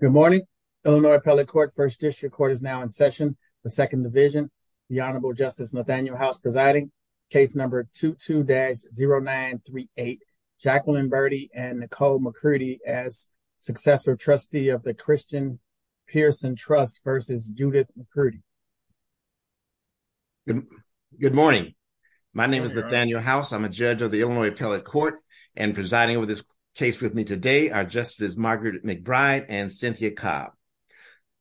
Good morning, Illinois Appellate Court. First District Court is now in session. The Second Division. The Honorable Justice Nathaniel House presiding. Case number 22-0938. Jacqueline Burdi and Nicole McCurdy as successor trustee of the Christian Pearson Trust versus Judith McCurdy. Good morning. My name is Nathaniel House. I'm a judge of the Illinois Appellate Court and presiding over this case with me today are Justices Margaret McBride and Cynthia Cobb.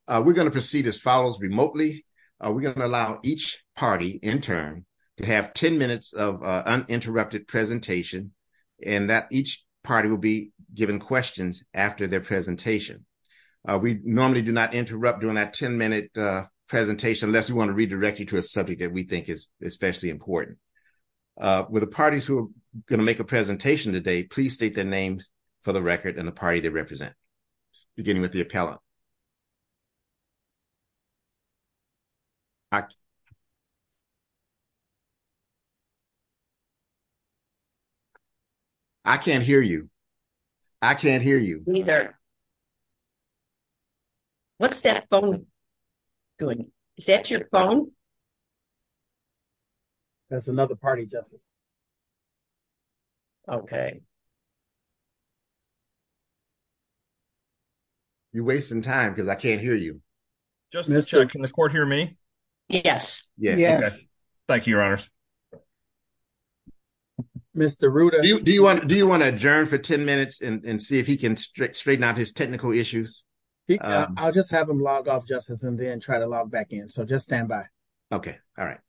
We're going to proceed as follows remotely. We're going to allow each party intern to have 10 minutes of uninterrupted presentation and that each party will be given questions after their presentation. We normally do not interrupt during that 10 minute presentation unless we want to redirect you to a subject that we think is especially important. With the parties who are going to make a presentation today, please state their names for the record and the party they represent. Beginning with the appellate. I can't hear you. I can't hear you. What's that phone doing? Is that your phone? That's another party, Justice. Okay. You're wasting time because I can't hear you. Can the court hear me? Yes. Yes. Thank you, Your Honors. Mr. Ruda. Do you want to adjourn for 10 minutes and see if he can straighten out his technical issues? I'll just have him log off, Justice, and then try to log back in. So just stand by. Okay. All right.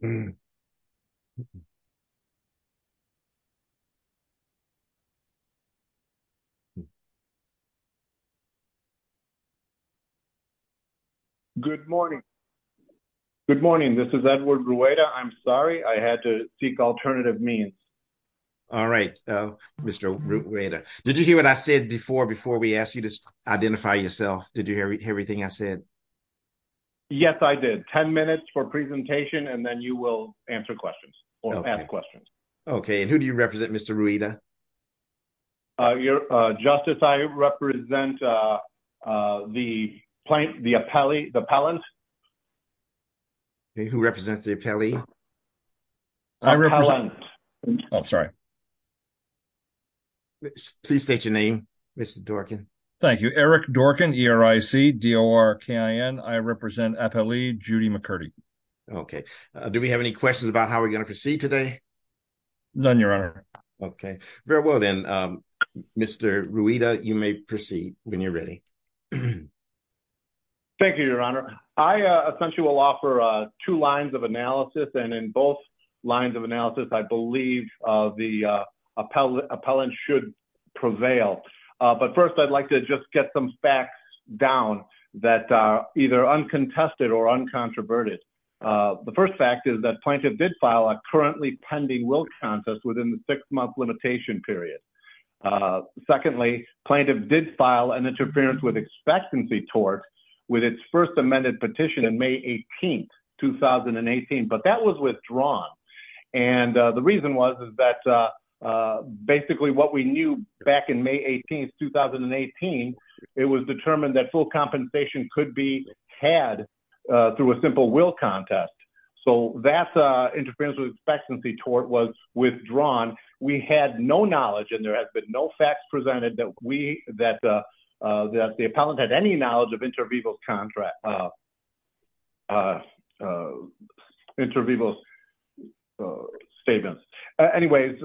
Thank you. Thank you. Thank you. Thank you. Thank you. Thank you. Thank you. Thank you. Thank you. Thank you. Thank you. Thank you. Thank you. Thank you. Thank you. Thank you. Thank you. Thank you. Thank you. Thank you. Okay. Thank you. Thank you. Thank you. Who represents the epali. I'm sorry, please state your name. Mister dog. Thank you Eric dark and your I see door can I represent epali Judy McCurdy. Okay. Do we have any questions about how we going to proceed today, then your honor. Okay, very well then, Mr. Ruida you may proceed when you're ready. Thank you, your honor. I essentially will offer two lines of analysis and in both lines of analysis. I believe the appellate appellant should prevail. But first, I'd like to just get some facts down that are either uncontested or uncontroverted. The first fact is that plaintiff did file a currently pending will contest within the six month limitation period. Secondly, plaintiff did file an interference with expectancy tort with its first amended petition in May 18, 2018. But that was withdrawn. And the reason was, is that basically what we knew back in May 18, 2018, it was determined that full compensation could be had through a simple will contest. So that's interference with expectancy tort was withdrawn. We had no knowledge and there has been no facts presented that we that that the appellant had any knowledge of interviews contract interviews statements. Anyways,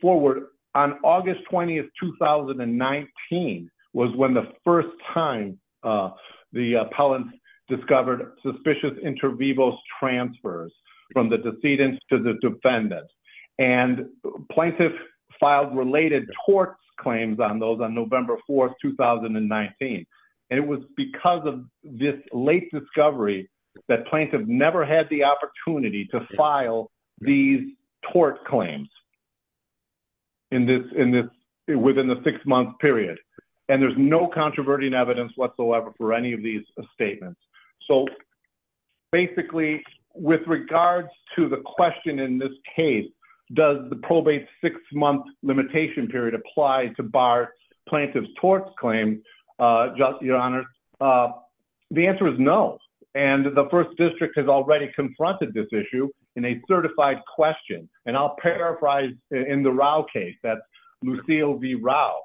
forward on August 20th, 2019 was when the first time the appellant discovered suspicious interviews transfers from the decedent to the defendant. And plaintiff filed related torts claims on those on November 4th, 2019. And it was because of this late discovery that plaintiff never had the opportunity to file these tort claims. In this in this within the six month period, and there's no controverting evidence whatsoever for any of these statements. So, basically, with regards to the question in this case, does the probate six month limitation period apply to bar plaintiff's torts claim? Your Honor, the answer is no. And the first district has already confronted this issue in a certified question. And I'll paraphrase in the case that Lucille V. Rao,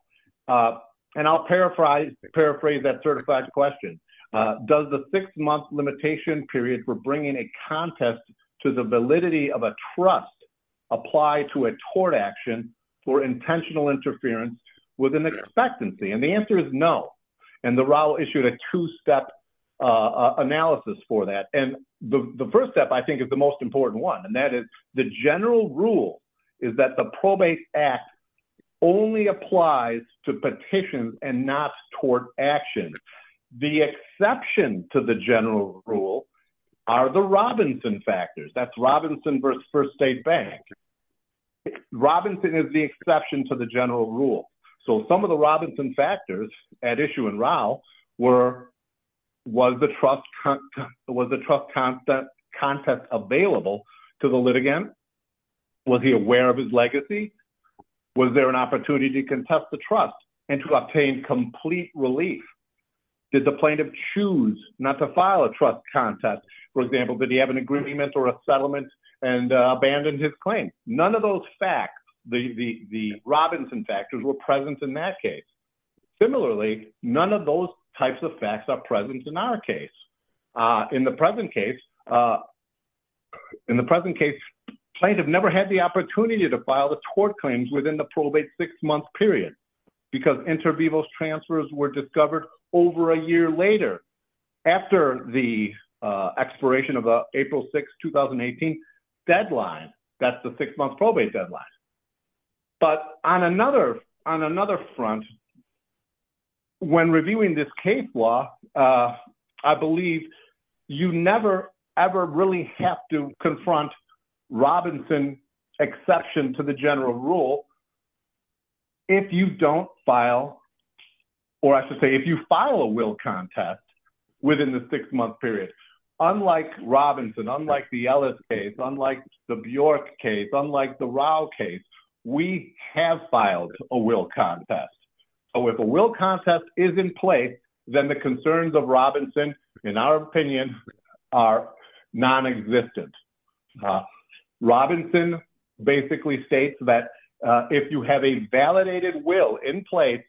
and I'll paraphrase paraphrase that certified question. Does the six month limitation period for bringing a contest to the validity of a trust apply to a tort action for intentional interference with an expectancy? And the answer is no. And the Rao issued a two step analysis for that. And the first step, I think, is the most important one. And that is the general rule is that the probate act only applies to petitions and not tort action. The exception to the general rule are the Robinson factors. That's Robinson versus First State Bank. Robinson is the exception to the general rule. So, some of the Robinson factors at issue in Rao were, was the trust contest available to the litigant? Was he aware of his legacy? Was there an opportunity to contest the trust and to obtain complete relief? Did the plaintiff choose not to file a trust contest? For example, did he have an agreement or a settlement and abandoned his claim? None of those facts, the Robinson factors were present in that case. Similarly, none of those types of facts are present in our case. In the present case, plaintiff never had the opportunity to file the tort claims within the probate six month period. Because inter vivos transfers were discovered over a year later. After the expiration of April 6, 2018 deadline, that's the six month probate deadline. But on another, on another front, when reviewing this case law, I believe you never, ever really have to confront Robinson exception to the general rule. If you don't file, or I should say, if you file a will contest within the six month period, unlike Robinson, unlike the Ellis case, unlike the Bjork case, unlike the Rao case, we have filed a will contest. So, if a will contest is in place, then the concerns of Robinson, in our opinion, are nonexistent. Robinson basically states that if you have a validated will in place,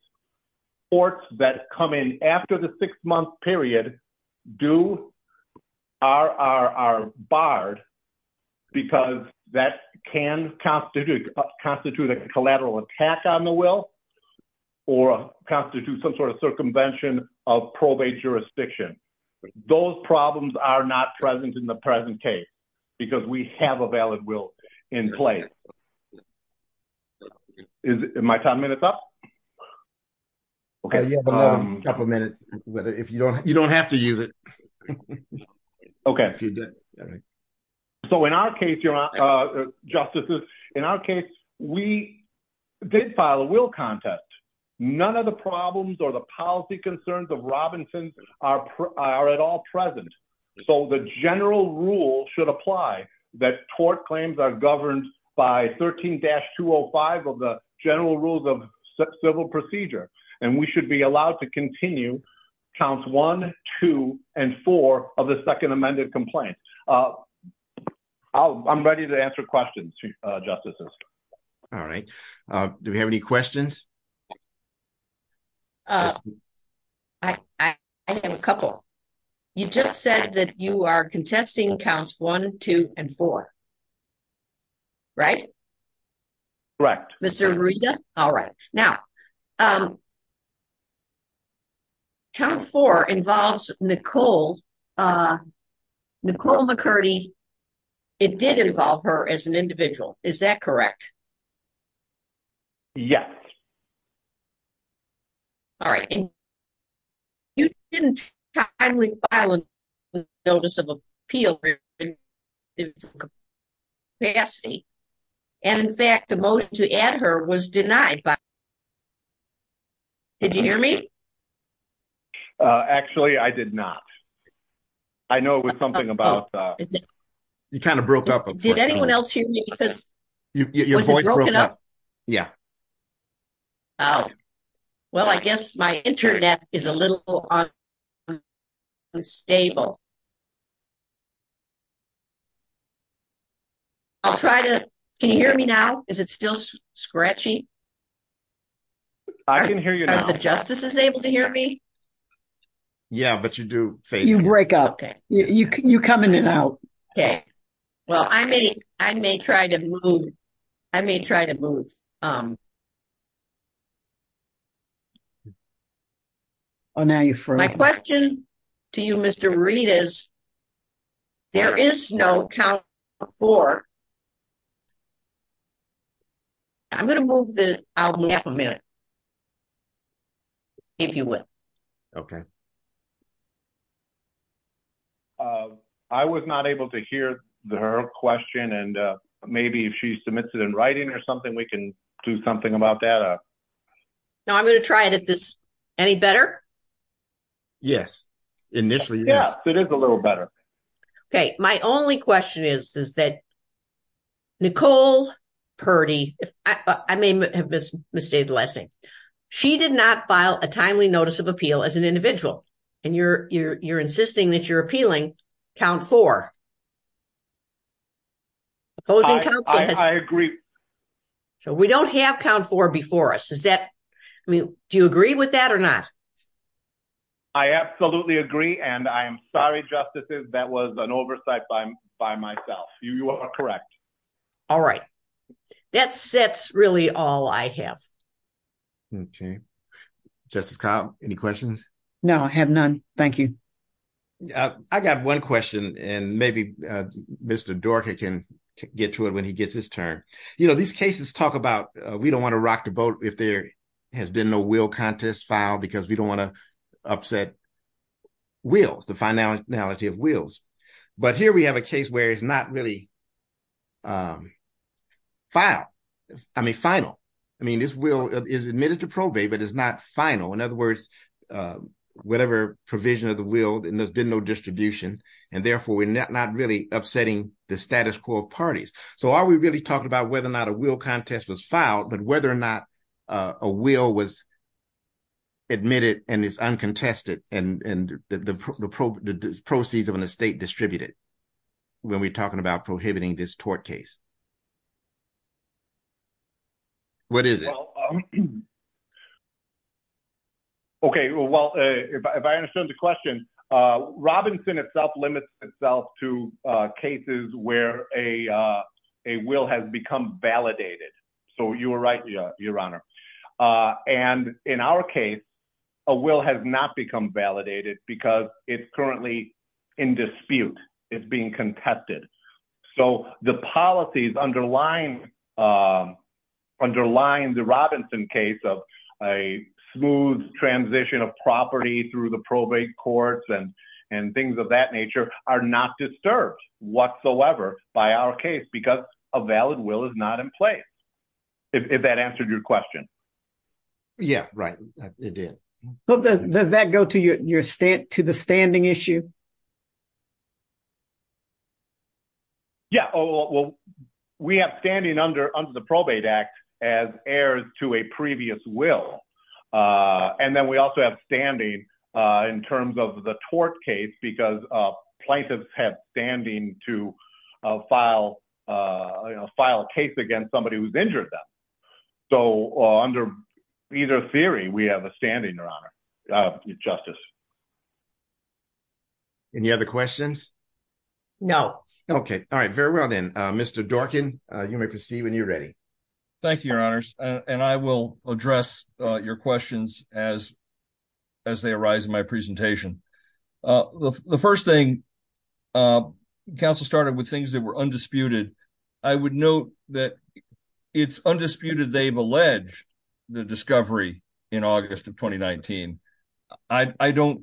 courts that come in after the six month period are barred. Because that can constitute a collateral attack on the will, or constitute some sort of circumvention of probate jurisdiction. Those problems are not present in the present case. Because we have a valid will in place. Is my time minutes up? Okay. You have a couple minutes. You don't have to use it. Okay. So, in our case, justices, in our case, we did file a will contest. None of the problems or the policy concerns of Robinson are at all present. So, the general rule should apply that tort claims are governed by 13-205 of the general rules of civil procedure. And we should be allowed to continue counts one, two, and four of the second amended complaint. I'm ready to answer questions, justices. All right. Do we have any questions? I have a couple. You just said that you are contesting counts one, two, and four. Right? Correct. All right. Now, count four involves Nicole McCurdy. It did involve her as an individual. Is that correct? Yes. All right. You didn't timely file a notice of appeal. And, in fact, the motion to add her was denied. Did you hear me? Actually, I did not. I know it was something about. You kind of broke up. Did anyone else hear me? Was it broken up? Yeah. Oh. Well, I guess my internet is a little unstable. I'll try to. Can you hear me now? Is it still scratchy? I can hear you now. Are the justices able to hear me? Yeah, but you do. You break up. Okay. You come in and out. Okay. Well, I may. I may try to move. I may try to move. Oh, now you for my question to you, Mr. Reed is. There is no account for. I'm going to move the. I'll have a minute. If you will. Okay. I was not able to hear the her question. And maybe if she submits it in writing or something, we can do something about that. Now, I'm going to try it at this. Any better. Yes. Initially. Yeah, it is a little better. Okay. My only question is, is that. Nicole Purdy. I may have misstated the last name. She did not file a timely notice of appeal as an individual. And you're, you're, you're insisting that you're appealing count for. I agree. So, we don't have count for before us. Is that. I mean, do you agree with that or not? I absolutely agree. And I am sorry. Justices. That was an oversight by, by myself. You are correct. All right. That sets really all I have. Okay. Justice. Kyle. Any questions? No, I have none. Thank you. I got one question and maybe Mr. Dorky can get to it when he gets his turn. You know, these cases talk about, we don't want to rock the boat. If there has been no will contest file, because we don't want to upset. Wills the finality of wheels. But here we have a case where it's not really. File. I mean, final. I mean, this will is admitted to probate, but it's not final. In other words, whatever provision of the will, and there's been no distribution and therefore we're not really upsetting the status quo of parties. So are we really talking about whether or not a will contest was filed, but whether or not. A wheel was. Admitted and it's uncontested and the probe proceeds of an estate distributed. When we talking about prohibiting this tort case. What is it? Okay. Well, if I understood the question, Robinson itself, limits itself to cases where a, a will has become validated. So you were right. Yeah. Your honor. And in our case. A will has not become validated because it's currently in dispute. It's being contested. So the policies underlying. Underlying the Robinson case of a smooth transition of property through the probate courts and, and things of that nature are not disturbed whatsoever by our case, because a valid will is not in place. If that answered your question. Yeah. Right. It did. Does that go to your state, to the standing issue? Yeah. Well, we have standing under, under the probate act as heirs to a previous will. And then we also have standing in terms of the tort case, because plaintiffs have standing to file, you know, file a case against somebody who's injured them. So under either theory, we have a standing or honor justice. Any other questions? No. Okay. All right. Very well then Mr. Dorkin you may proceed when you're ready. Thank you, your honors. And I will address your questions as, as they arise in my presentation. The first thing council started with things that were undisputed. I would note that it's undisputed. They've alleged the discovery in August of 2019. I don't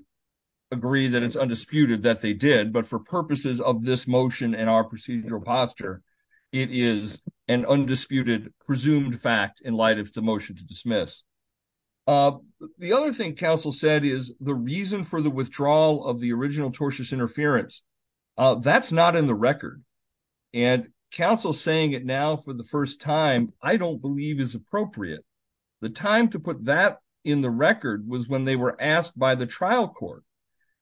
agree that it's undisputed that they did, but for purposes of this motion and our procedural posture, it is an undisputed presumed fact in light of the motion to dismiss. The other thing council said is the reason for the withdrawal of the original tortious interference. That's not in the record and council saying it now for the first time, I don't believe is appropriate. The time to put that in the record was when they were asked by the trial court.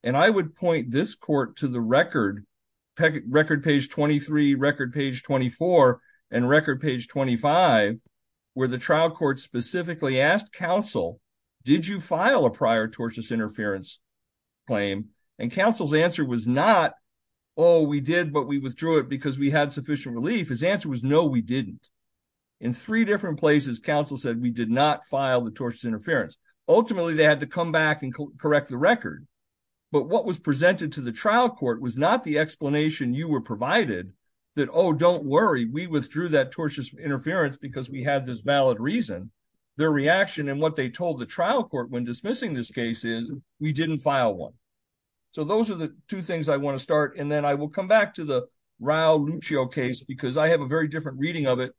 And I would point this court to the record record page 23 record page 24 and record page 25 where the trial court specifically asked council, did you file a prior tortious interference claim? And council's answer was not, Oh, we did, but we withdrew it because we had sufficient relief. His answer was no, we didn't. In three different places council said we did not file the tortious interference. Ultimately they had to come back and correct the record. But what was presented to the trial court was not the explanation. You were provided that, Oh, don't worry. We withdrew that tortious interference because we had this valid reason, their reaction. And what they told the trial court when dismissing this case is we didn't file one. So those are the two things I want to start. And then I will come back to the row Lucio case, because I have a very different reading of it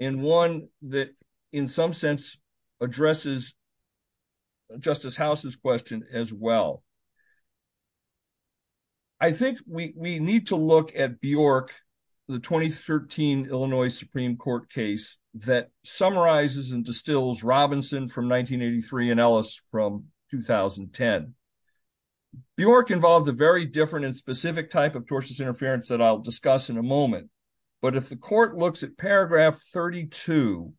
in one that in some sense addresses justice houses question as well. I think we, we need to look at Bjork the 2013 Illinois Supreme court case that summarizes and distills Robinson from 1983 and Ellis from 2010 Bjork involves a very different and specific type of tortious interference that I'll discuss in a moment. But if the court looks at paragraph 32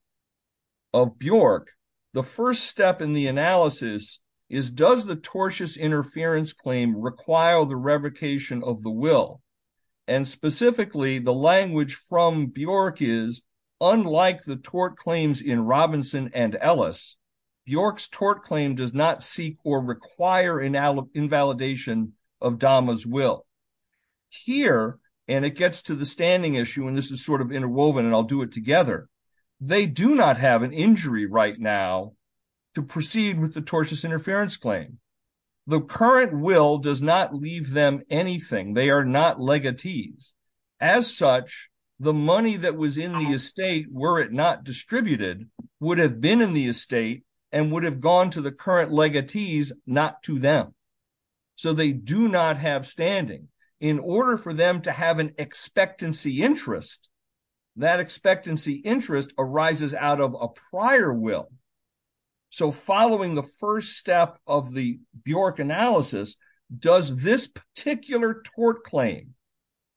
of Bjork, the first step in the analysis is does the tortious interference claim require the revocation of the will? And specifically the language from Bjork is unlike the tort claims in Robinson and Ellis Bjork's tort claim does not seek or require an invalidation of Dama's will here. And it gets to the standing issue. And this is sort of interwoven and I'll do it together. They do not have an injury right now to proceed with the tortious interference claim. The current will does not leave them anything. They are not legatees as such the money that was in the estate, were it not distributed would have been in the estate and would have gone to the current legatees, not to them. So they do not have standing in order for them to have an expectancy interest that expectancy interest arises out of a prior will. So following the first step of the Bjork analysis, does this particular tort claim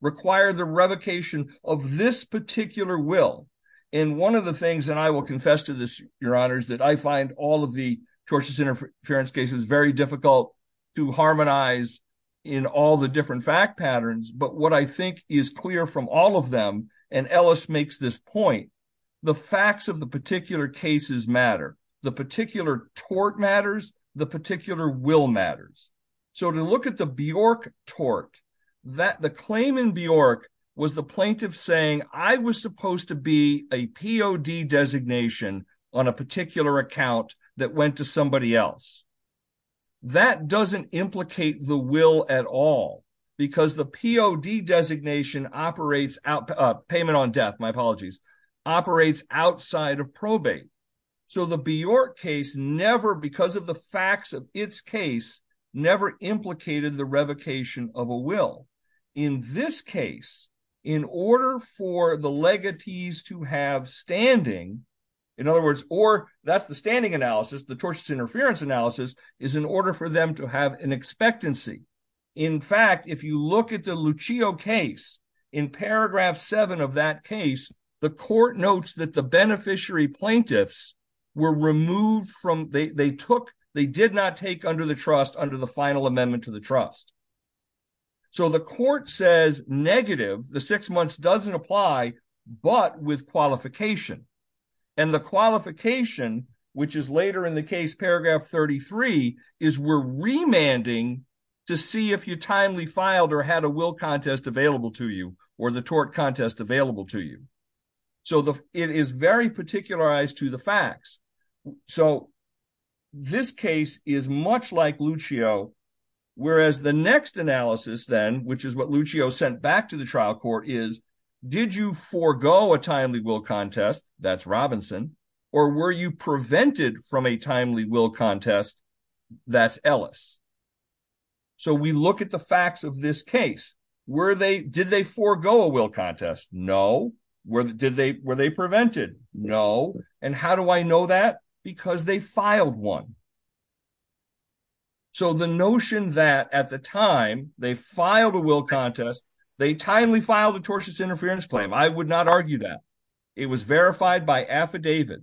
require the revocation of this particular will? And one of the things, and I will confess to this, your honors, that I find all of the tortious interference cases, very difficult to harmonize in all the different fact patterns. But what I think is clear from all of them, and Ellis makes this point, the facts of the particular cases matter, the particular tort matters, the particular will matters. So to look at the Bjork tort, that the claim in Bjork was the plaintiff saying, I was supposed to be a POD designation on a particular account that went to somebody else. That doesn't implicate the will at all, because the POD designation operates out payment on death, my apologies, operates outside of probate. So the Bjork case never, because of the facts of its case, never implicated the revocation of a will. In this case, in order for the legatees to have standing, in other words, or that's the standing analysis, the tortious interference analysis is in order for them to have an expectancy. In fact, if you look at the Lucio case in paragraph seven of that case, the court notes that the beneficiary plaintiffs were removed from, they took, they did not take under the trust under the final amendment to the trust. So the court says negative, the six months doesn't apply, but with qualification and the qualification, which is later in the case, paragraph 33 is we're remanding to see if you timely filed or had a will contest available to you or the tort contest available to you. So it is very particularized to the facts. So this case is much like Lucio. Whereas the next analysis then, which is what Lucio sent back to the trial court is, did you forego a timely will contest that's Robinson, or were you prevented from a timely will contest that's Ellis? So we look at the facts of this case. Were they, did they forego a will contest? No. Were they prevented? No. And how do I know that? Because they filed one. So the notion that at the time they filed a will contest, they timely filed a tortious interference claim. I would not argue that. It was verified by affidavit.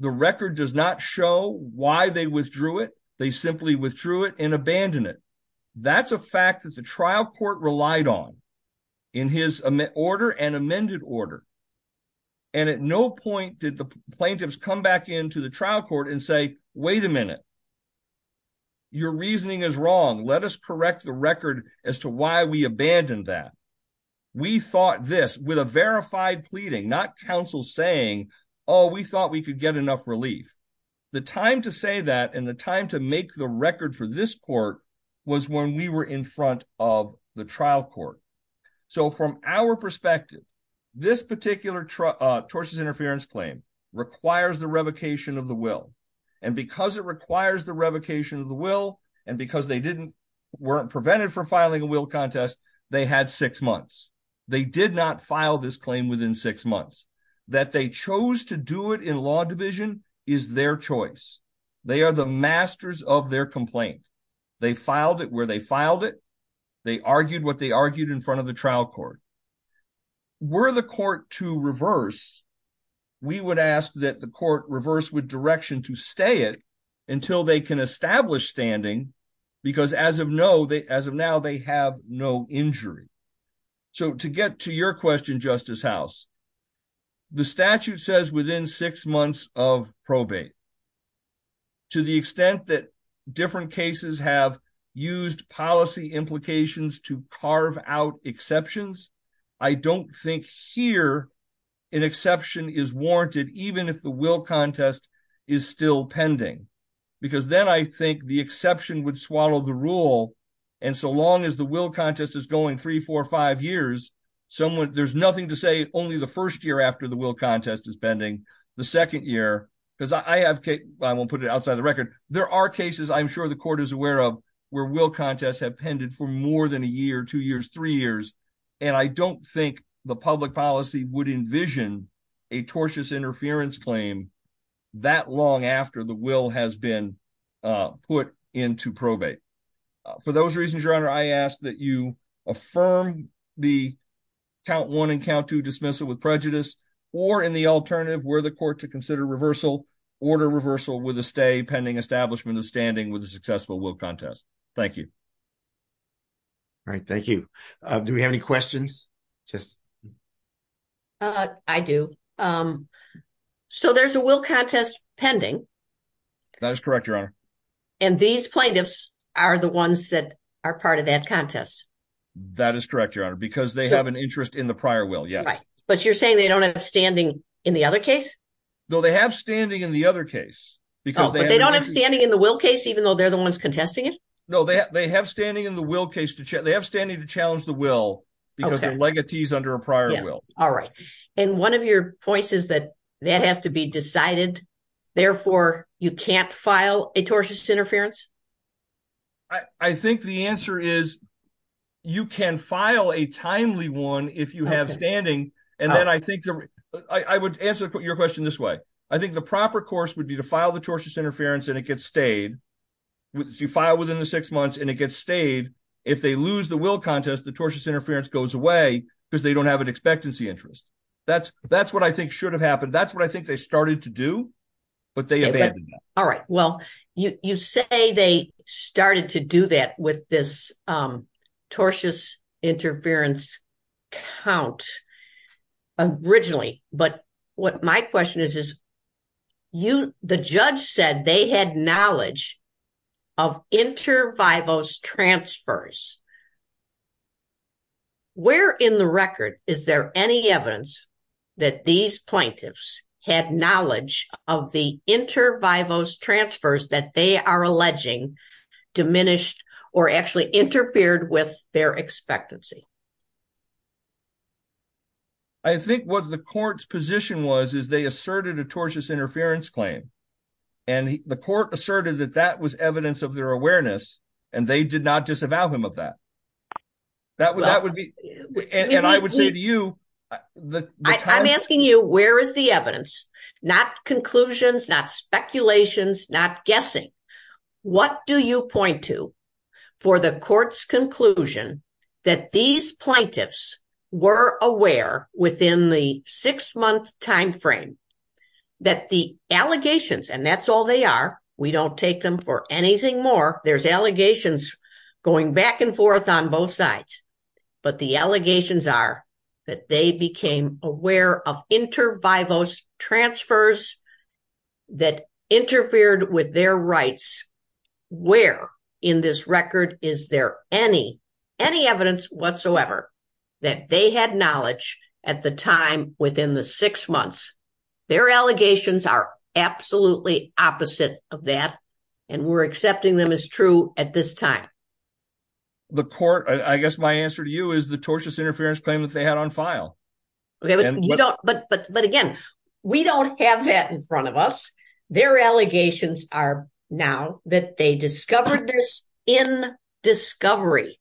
The record does not show why they withdrew it. They simply withdrew it and abandon it. That's a fact that the trial court relied on in his order and amended order. And at no point did the plaintiffs come back into the trial court and say, wait a minute, your reasoning is wrong. Let us correct the record as to why we abandoned that. We thought this with a verified pleading, not counsel saying, Oh, we thought we could get enough relief. The time to say that and the time to make the record for this court was when we were in front of the trial court. So from our perspective, this particular tortuous interference claim requires the revocation of the will. And because it requires the revocation of the will, and because they weren't prevented from filing a will contest, they had six months. They did not file this claim within six months. That they chose to do it in law division is their choice. They are the masters of their complaint. They filed it where they filed it. They argued what they argued in front of the trial court. Were the court to reverse, we would ask that the court reverse with direction to stay it until they can prevent injury. So to get to your question, justice house, the statute says within six months of probate to the extent that different cases have used policy implications to carve out exceptions. I don't think here an exception is warranted, even if the will contest is still pending, because then I think the exception would swallow the rule. And so long as the will contest is going three, four or five years, someone there's nothing to say only the first year after the will contest is pending the second year. Cause I have, I won't put it outside of the record. There are cases I'm sure the court is aware of where will contests have pended for more than a year, two years, three years. And I don't think the public policy would envision a tortuous interference claim that long after the will has been put into probate. For those reasons, your Honor, I ask that you affirm the count one and count two dismissal with prejudice or in the alternative where the court to consider reversal order reversal with a stay pending establishment of standing with a successful will contest. Thank you. All right. Thank you. Do we have any questions? I do. So there's a will contest pending. That is correct, your Honor. And these plaintiffs are the ones that are part of that contest. That is correct, your Honor, because they have an interest in the prior will. Yes. But you're saying they don't have standing in the other case? No, they have standing in the other case. But they don't have standing in the will case, even though they're the ones contesting it? No, they have standing in the will case. They have standing to challenge the will because their legatee is under a prior will. All right. And one of your points is that that has to be decided. Therefore, you can't file a tortious interference. I think the answer is you can file a timely one if you have standing. And then I think I would answer your question this way. I think the proper course would be to file the tortious interference and it gets stayed. You file within the six months and it gets stayed. If they lose the will contest, the tortious interference goes away because they don't have an expectancy interest. That's what I think should have happened. That's what I think they started to do, but they abandoned that. All right. Well, you say they started to do that with this tortious interference count originally. But what my question is, the judge said they had knowledge of inter vivos transfers. Where in the record is there any evidence that these plaintiffs, had knowledge of the inter vivos transfers that they are alleging diminished or actually interfered with their expectancy? I think what the court's position was, is they asserted a tortious interference claim and the court asserted that that was evidence of their awareness and they did not disavow him of that. That would, that would be, and I would say to you, I'm asking you, where is the evidence? Not conclusions, not speculations, not guessing. What do you point to for the court's conclusion that these plaintiffs were aware within the six month timeframe that the allegations, and that's all they are. We don't take them for anything more. There's allegations going back and forth on both sides, but the allegations are that they became aware of inter vivos transfers that interfered with their rights. Where in this record, is there any, any evidence whatsoever that they had knowledge at the time within the six months, their allegations are absolutely opposite of that. And we're accepting them as true at this time. The court, I guess, my answer to you is the tortious interference claim that they had on file. You don't, but, but, but again, we don't have that in front of us. Their allegations are now that they discovered this in discovery.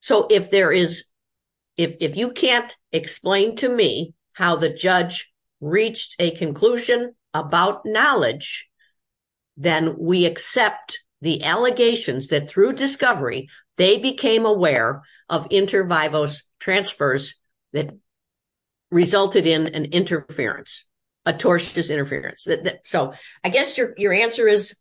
So if there is, if you can't explain to me how the judge reached a conclusion about knowledge, then we accept the allegations that through discovery, they became aware of inter vivos transfers that resulted in an interference, a tortious interference. So I guess your, your answer is,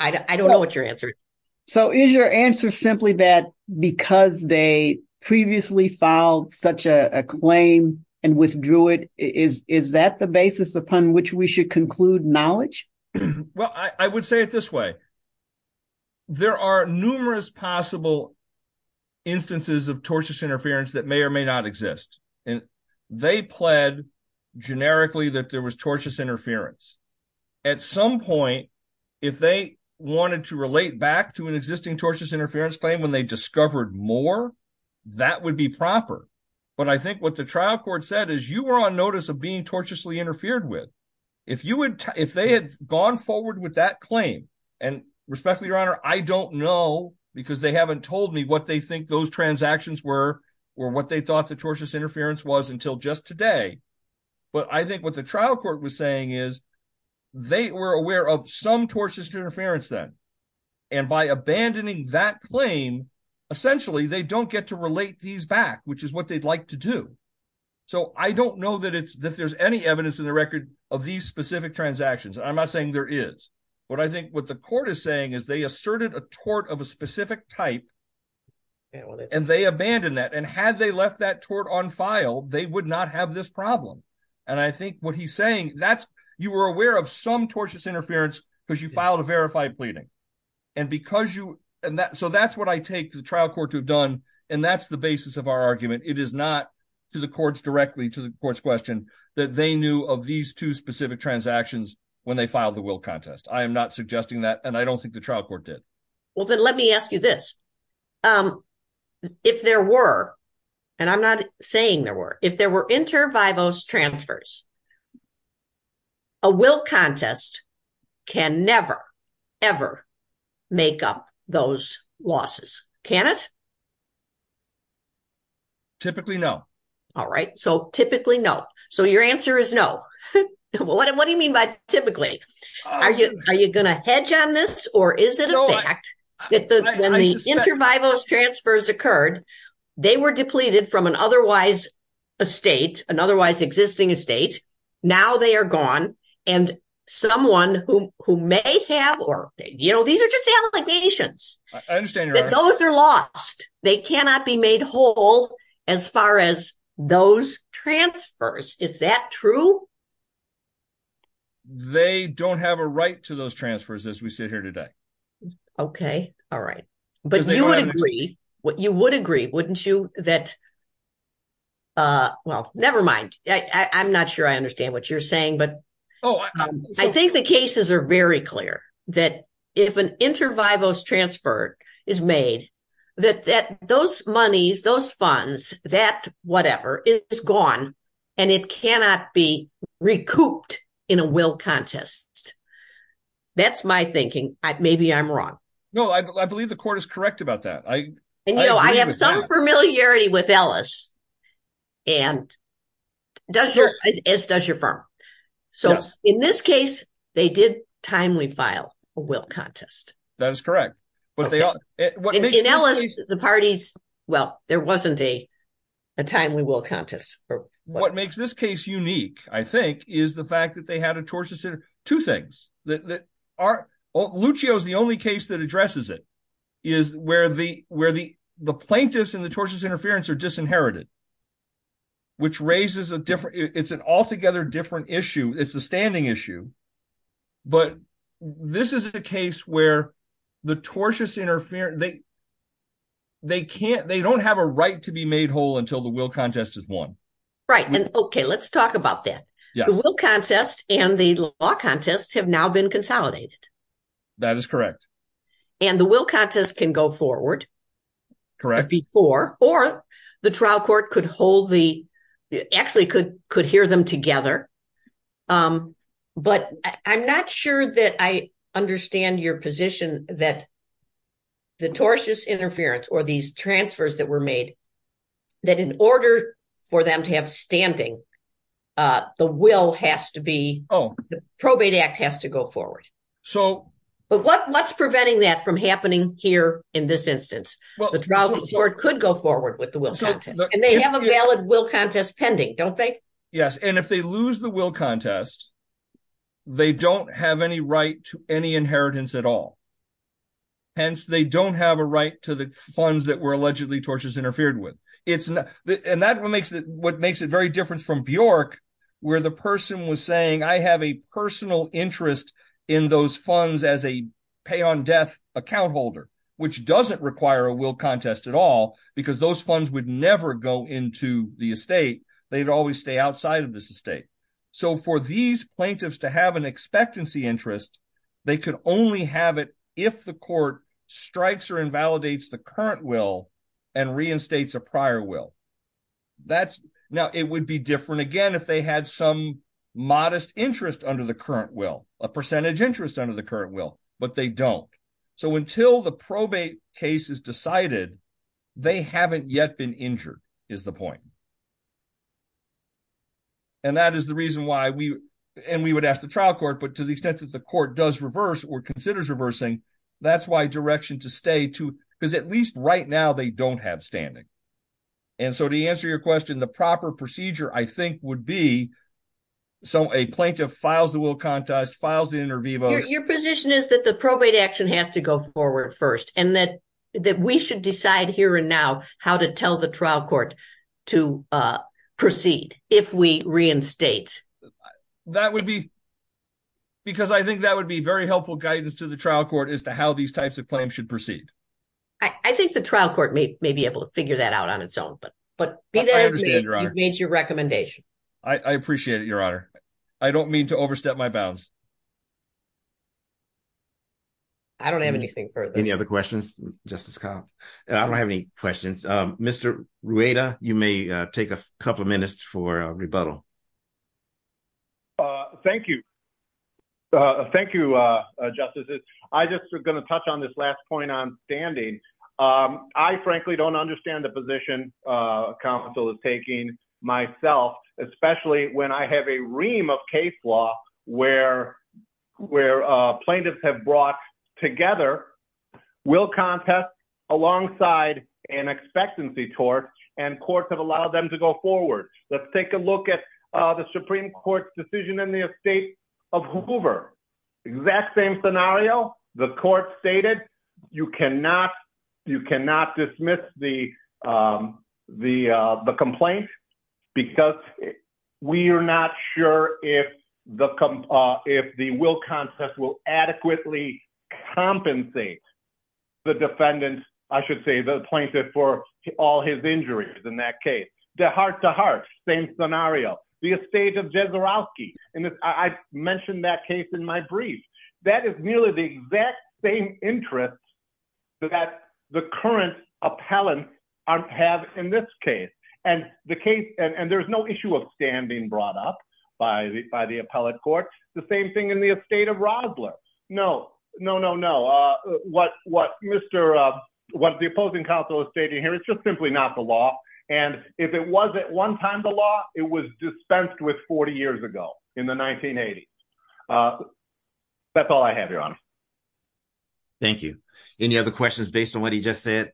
I don't know what your answer is. So is your answer simply that because they previously filed such a claim and there's a basis upon which we should conclude knowledge? Well, I would say it this way. There are numerous possible instances of tortious interference that may or may not exist. And they pled generically that there was tortious interference. At some point, if they wanted to relate back to an existing tortious interference claim, when they discovered more, that would be proper. But I think what the trial court said is you were on notice of being tortiously interfered with. If you would, if they had gone forward with that claim and respectfully, your honor, I don't know because they haven't told me what they think those transactions were or what they thought the tortious interference was until just today. But I think what the trial court was saying is they were aware of some tortuous interference then. And by abandoning that claim, essentially they don't get to relate these back, which is what they'd like to do. So I don't know that there's any evidence in the record of these specific transactions. And I'm not saying there is, but I think what the court is saying is they asserted a tort of a specific type and they abandoned that. And had they left that tort on file, they would not have this problem. And I think what he's saying, you were aware of some tortious interference because you filed a verified pleading. And because you, so that's what I take the trial court to have done. And that's the basis of our argument. It is not to the courts directly to the court's question that they knew of these two specific transactions when they filed the will contest. I am not suggesting that. And I don't think the trial court did. Well, then let me ask you this. If there were, and I'm not saying there were, if there were inter vivos transfers, a will contest can never, ever make up those losses. Can it? Typically no. All right. So typically no. So your answer is no. What do you mean by typically, are you, are you going to hedge on this or is it a fact that the inter vivos transfers occurred, they were depleted from an otherwise, a state, an otherwise existing estate. Now they are gone and someone who, who may have, or, you know, these are just allegations. Those are lost. They cannot be made whole as far as those transfers. Is that true? They don't have a right to those transfers as we sit here today. Okay. All right. But you would agree what you would agree, wouldn't you? That, uh, well, nevermind. I, I, I'm not sure I understand what you're saying, but I think the cases are very clear that if an inter vivos transfer is made, that that those monies, those funds, that whatever, it is gone and it cannot be recouped in a will contest. That's my thinking. I, maybe I'm wrong. No, I believe the court is correct about that. I, I have some familiarity with Ellis and does your, as does your firm. So in this case, they did timely file a will contest. That is correct. But they are the parties. Well, there wasn't a timely will contest. What makes this case unique, I think is the fact that they had a tortious two things that are Lucio's. The only case that addresses it is where the, where the plaintiffs and the tortious interference are disinherited, which raises a different, it's an altogether different issue. It's a standing issue, but this is a case where the tortious interference, they, they can't, they don't have a right to be made whole until the will contest is won. Right. And okay, let's talk about that. The will contest and the law contest have now been consolidated. That is correct. And the will contest can go forward. Correct. Before or the trial court could hold the actually could, could hear them together. But I'm not sure that I understand your position that the tortious interference or these transfers that were made, that in order for them to have standing the will has to be, probate act has to go forward. So, but what, what's preventing that from happening here in this instance, the trial court could go forward with the will contest and they have a valid will contest pending. Don't they? Yes. And if they lose the will contest, they don't have any right to any inheritance at all. Hence, they don't have a right to the funds that were allegedly tortious interfered with. It's not, and that makes it, what makes it very different from Bjork where the person was saying, I have a personal interest in those funds as a pay on death account holder, which doesn't require a will contest at all because those funds would never go into the estate. They'd always stay outside of this estate. So for these plaintiffs to have an expectancy interest, they could only have it if the court strikes or invalidates the current will and reinstates a prior will that's now it would be different again, if they had some modest interest under the current will a percentage interest under the current will, but they don't. So until the probate case is decided, they haven't yet been injured is the point. And that is the reason why we, and we would ask the trial court, but to the extent that the court does reverse or considers reversing, that's why direction to stay too, because at least right now they don't have standing. And so to answer your question, the proper procedure I think would be, so a plaintiff files, the will contest files, the interview. Your position is that the probate action has to go forward first and that, that we should decide here and now how to tell the trial court to proceed. If we reinstate. That would be because I think that would be very helpful guidance to the trial court as to how these types of claims should proceed. I think the trial court may be able to figure that out on its own, but, but you've made your recommendation. I appreciate it. Your honor. I don't mean to overstep my bounds. I don't have anything further. Any other questions? Justice Cobb? I don't have any questions. Mr. Rueda, you may take a couple of minutes for a rebuttal. Thank you. Thank you. I just was going to touch on this last point on standing. I frankly don't understand the position counsel is taking myself, especially when I have a ream of case law where, where plaintiffs have brought together will contest alongside an expectancy tort and courts have allowed them to go forward. Let's take a look at the Supreme court's decision in the estate of Hoover. Exact same scenario. The court stated, you cannot, you cannot dismiss the the the complaint because we are not sure if the, if the will contest will adequately compensate the defendant, I should say the plaintiff for all his injuries. In that case, the heart to heart, same scenario, the estate of Jezerowski. And I mentioned that case in my brief, that is nearly the exact same interest that the current appellant have in this case. And the case, and there's no issue of standing brought up by the, by the appellate court. The same thing in the estate of Rosler. No, no, no, no. What, what, Mr what the opposing counsel is stating here, it's just simply not the law. And if it was at one time, the law, it was dispensed with 40 years ago in the 1980s. That's all I have your honor. Thank you. Any other questions based on what he just said?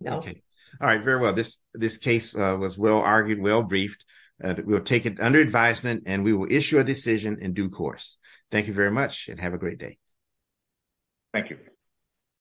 No. Okay. All right. Very well. This, this case was well argued, well briefed. We'll take it under advisement and we will issue a decision in due course. Thank you very much and have a great day. Thank you.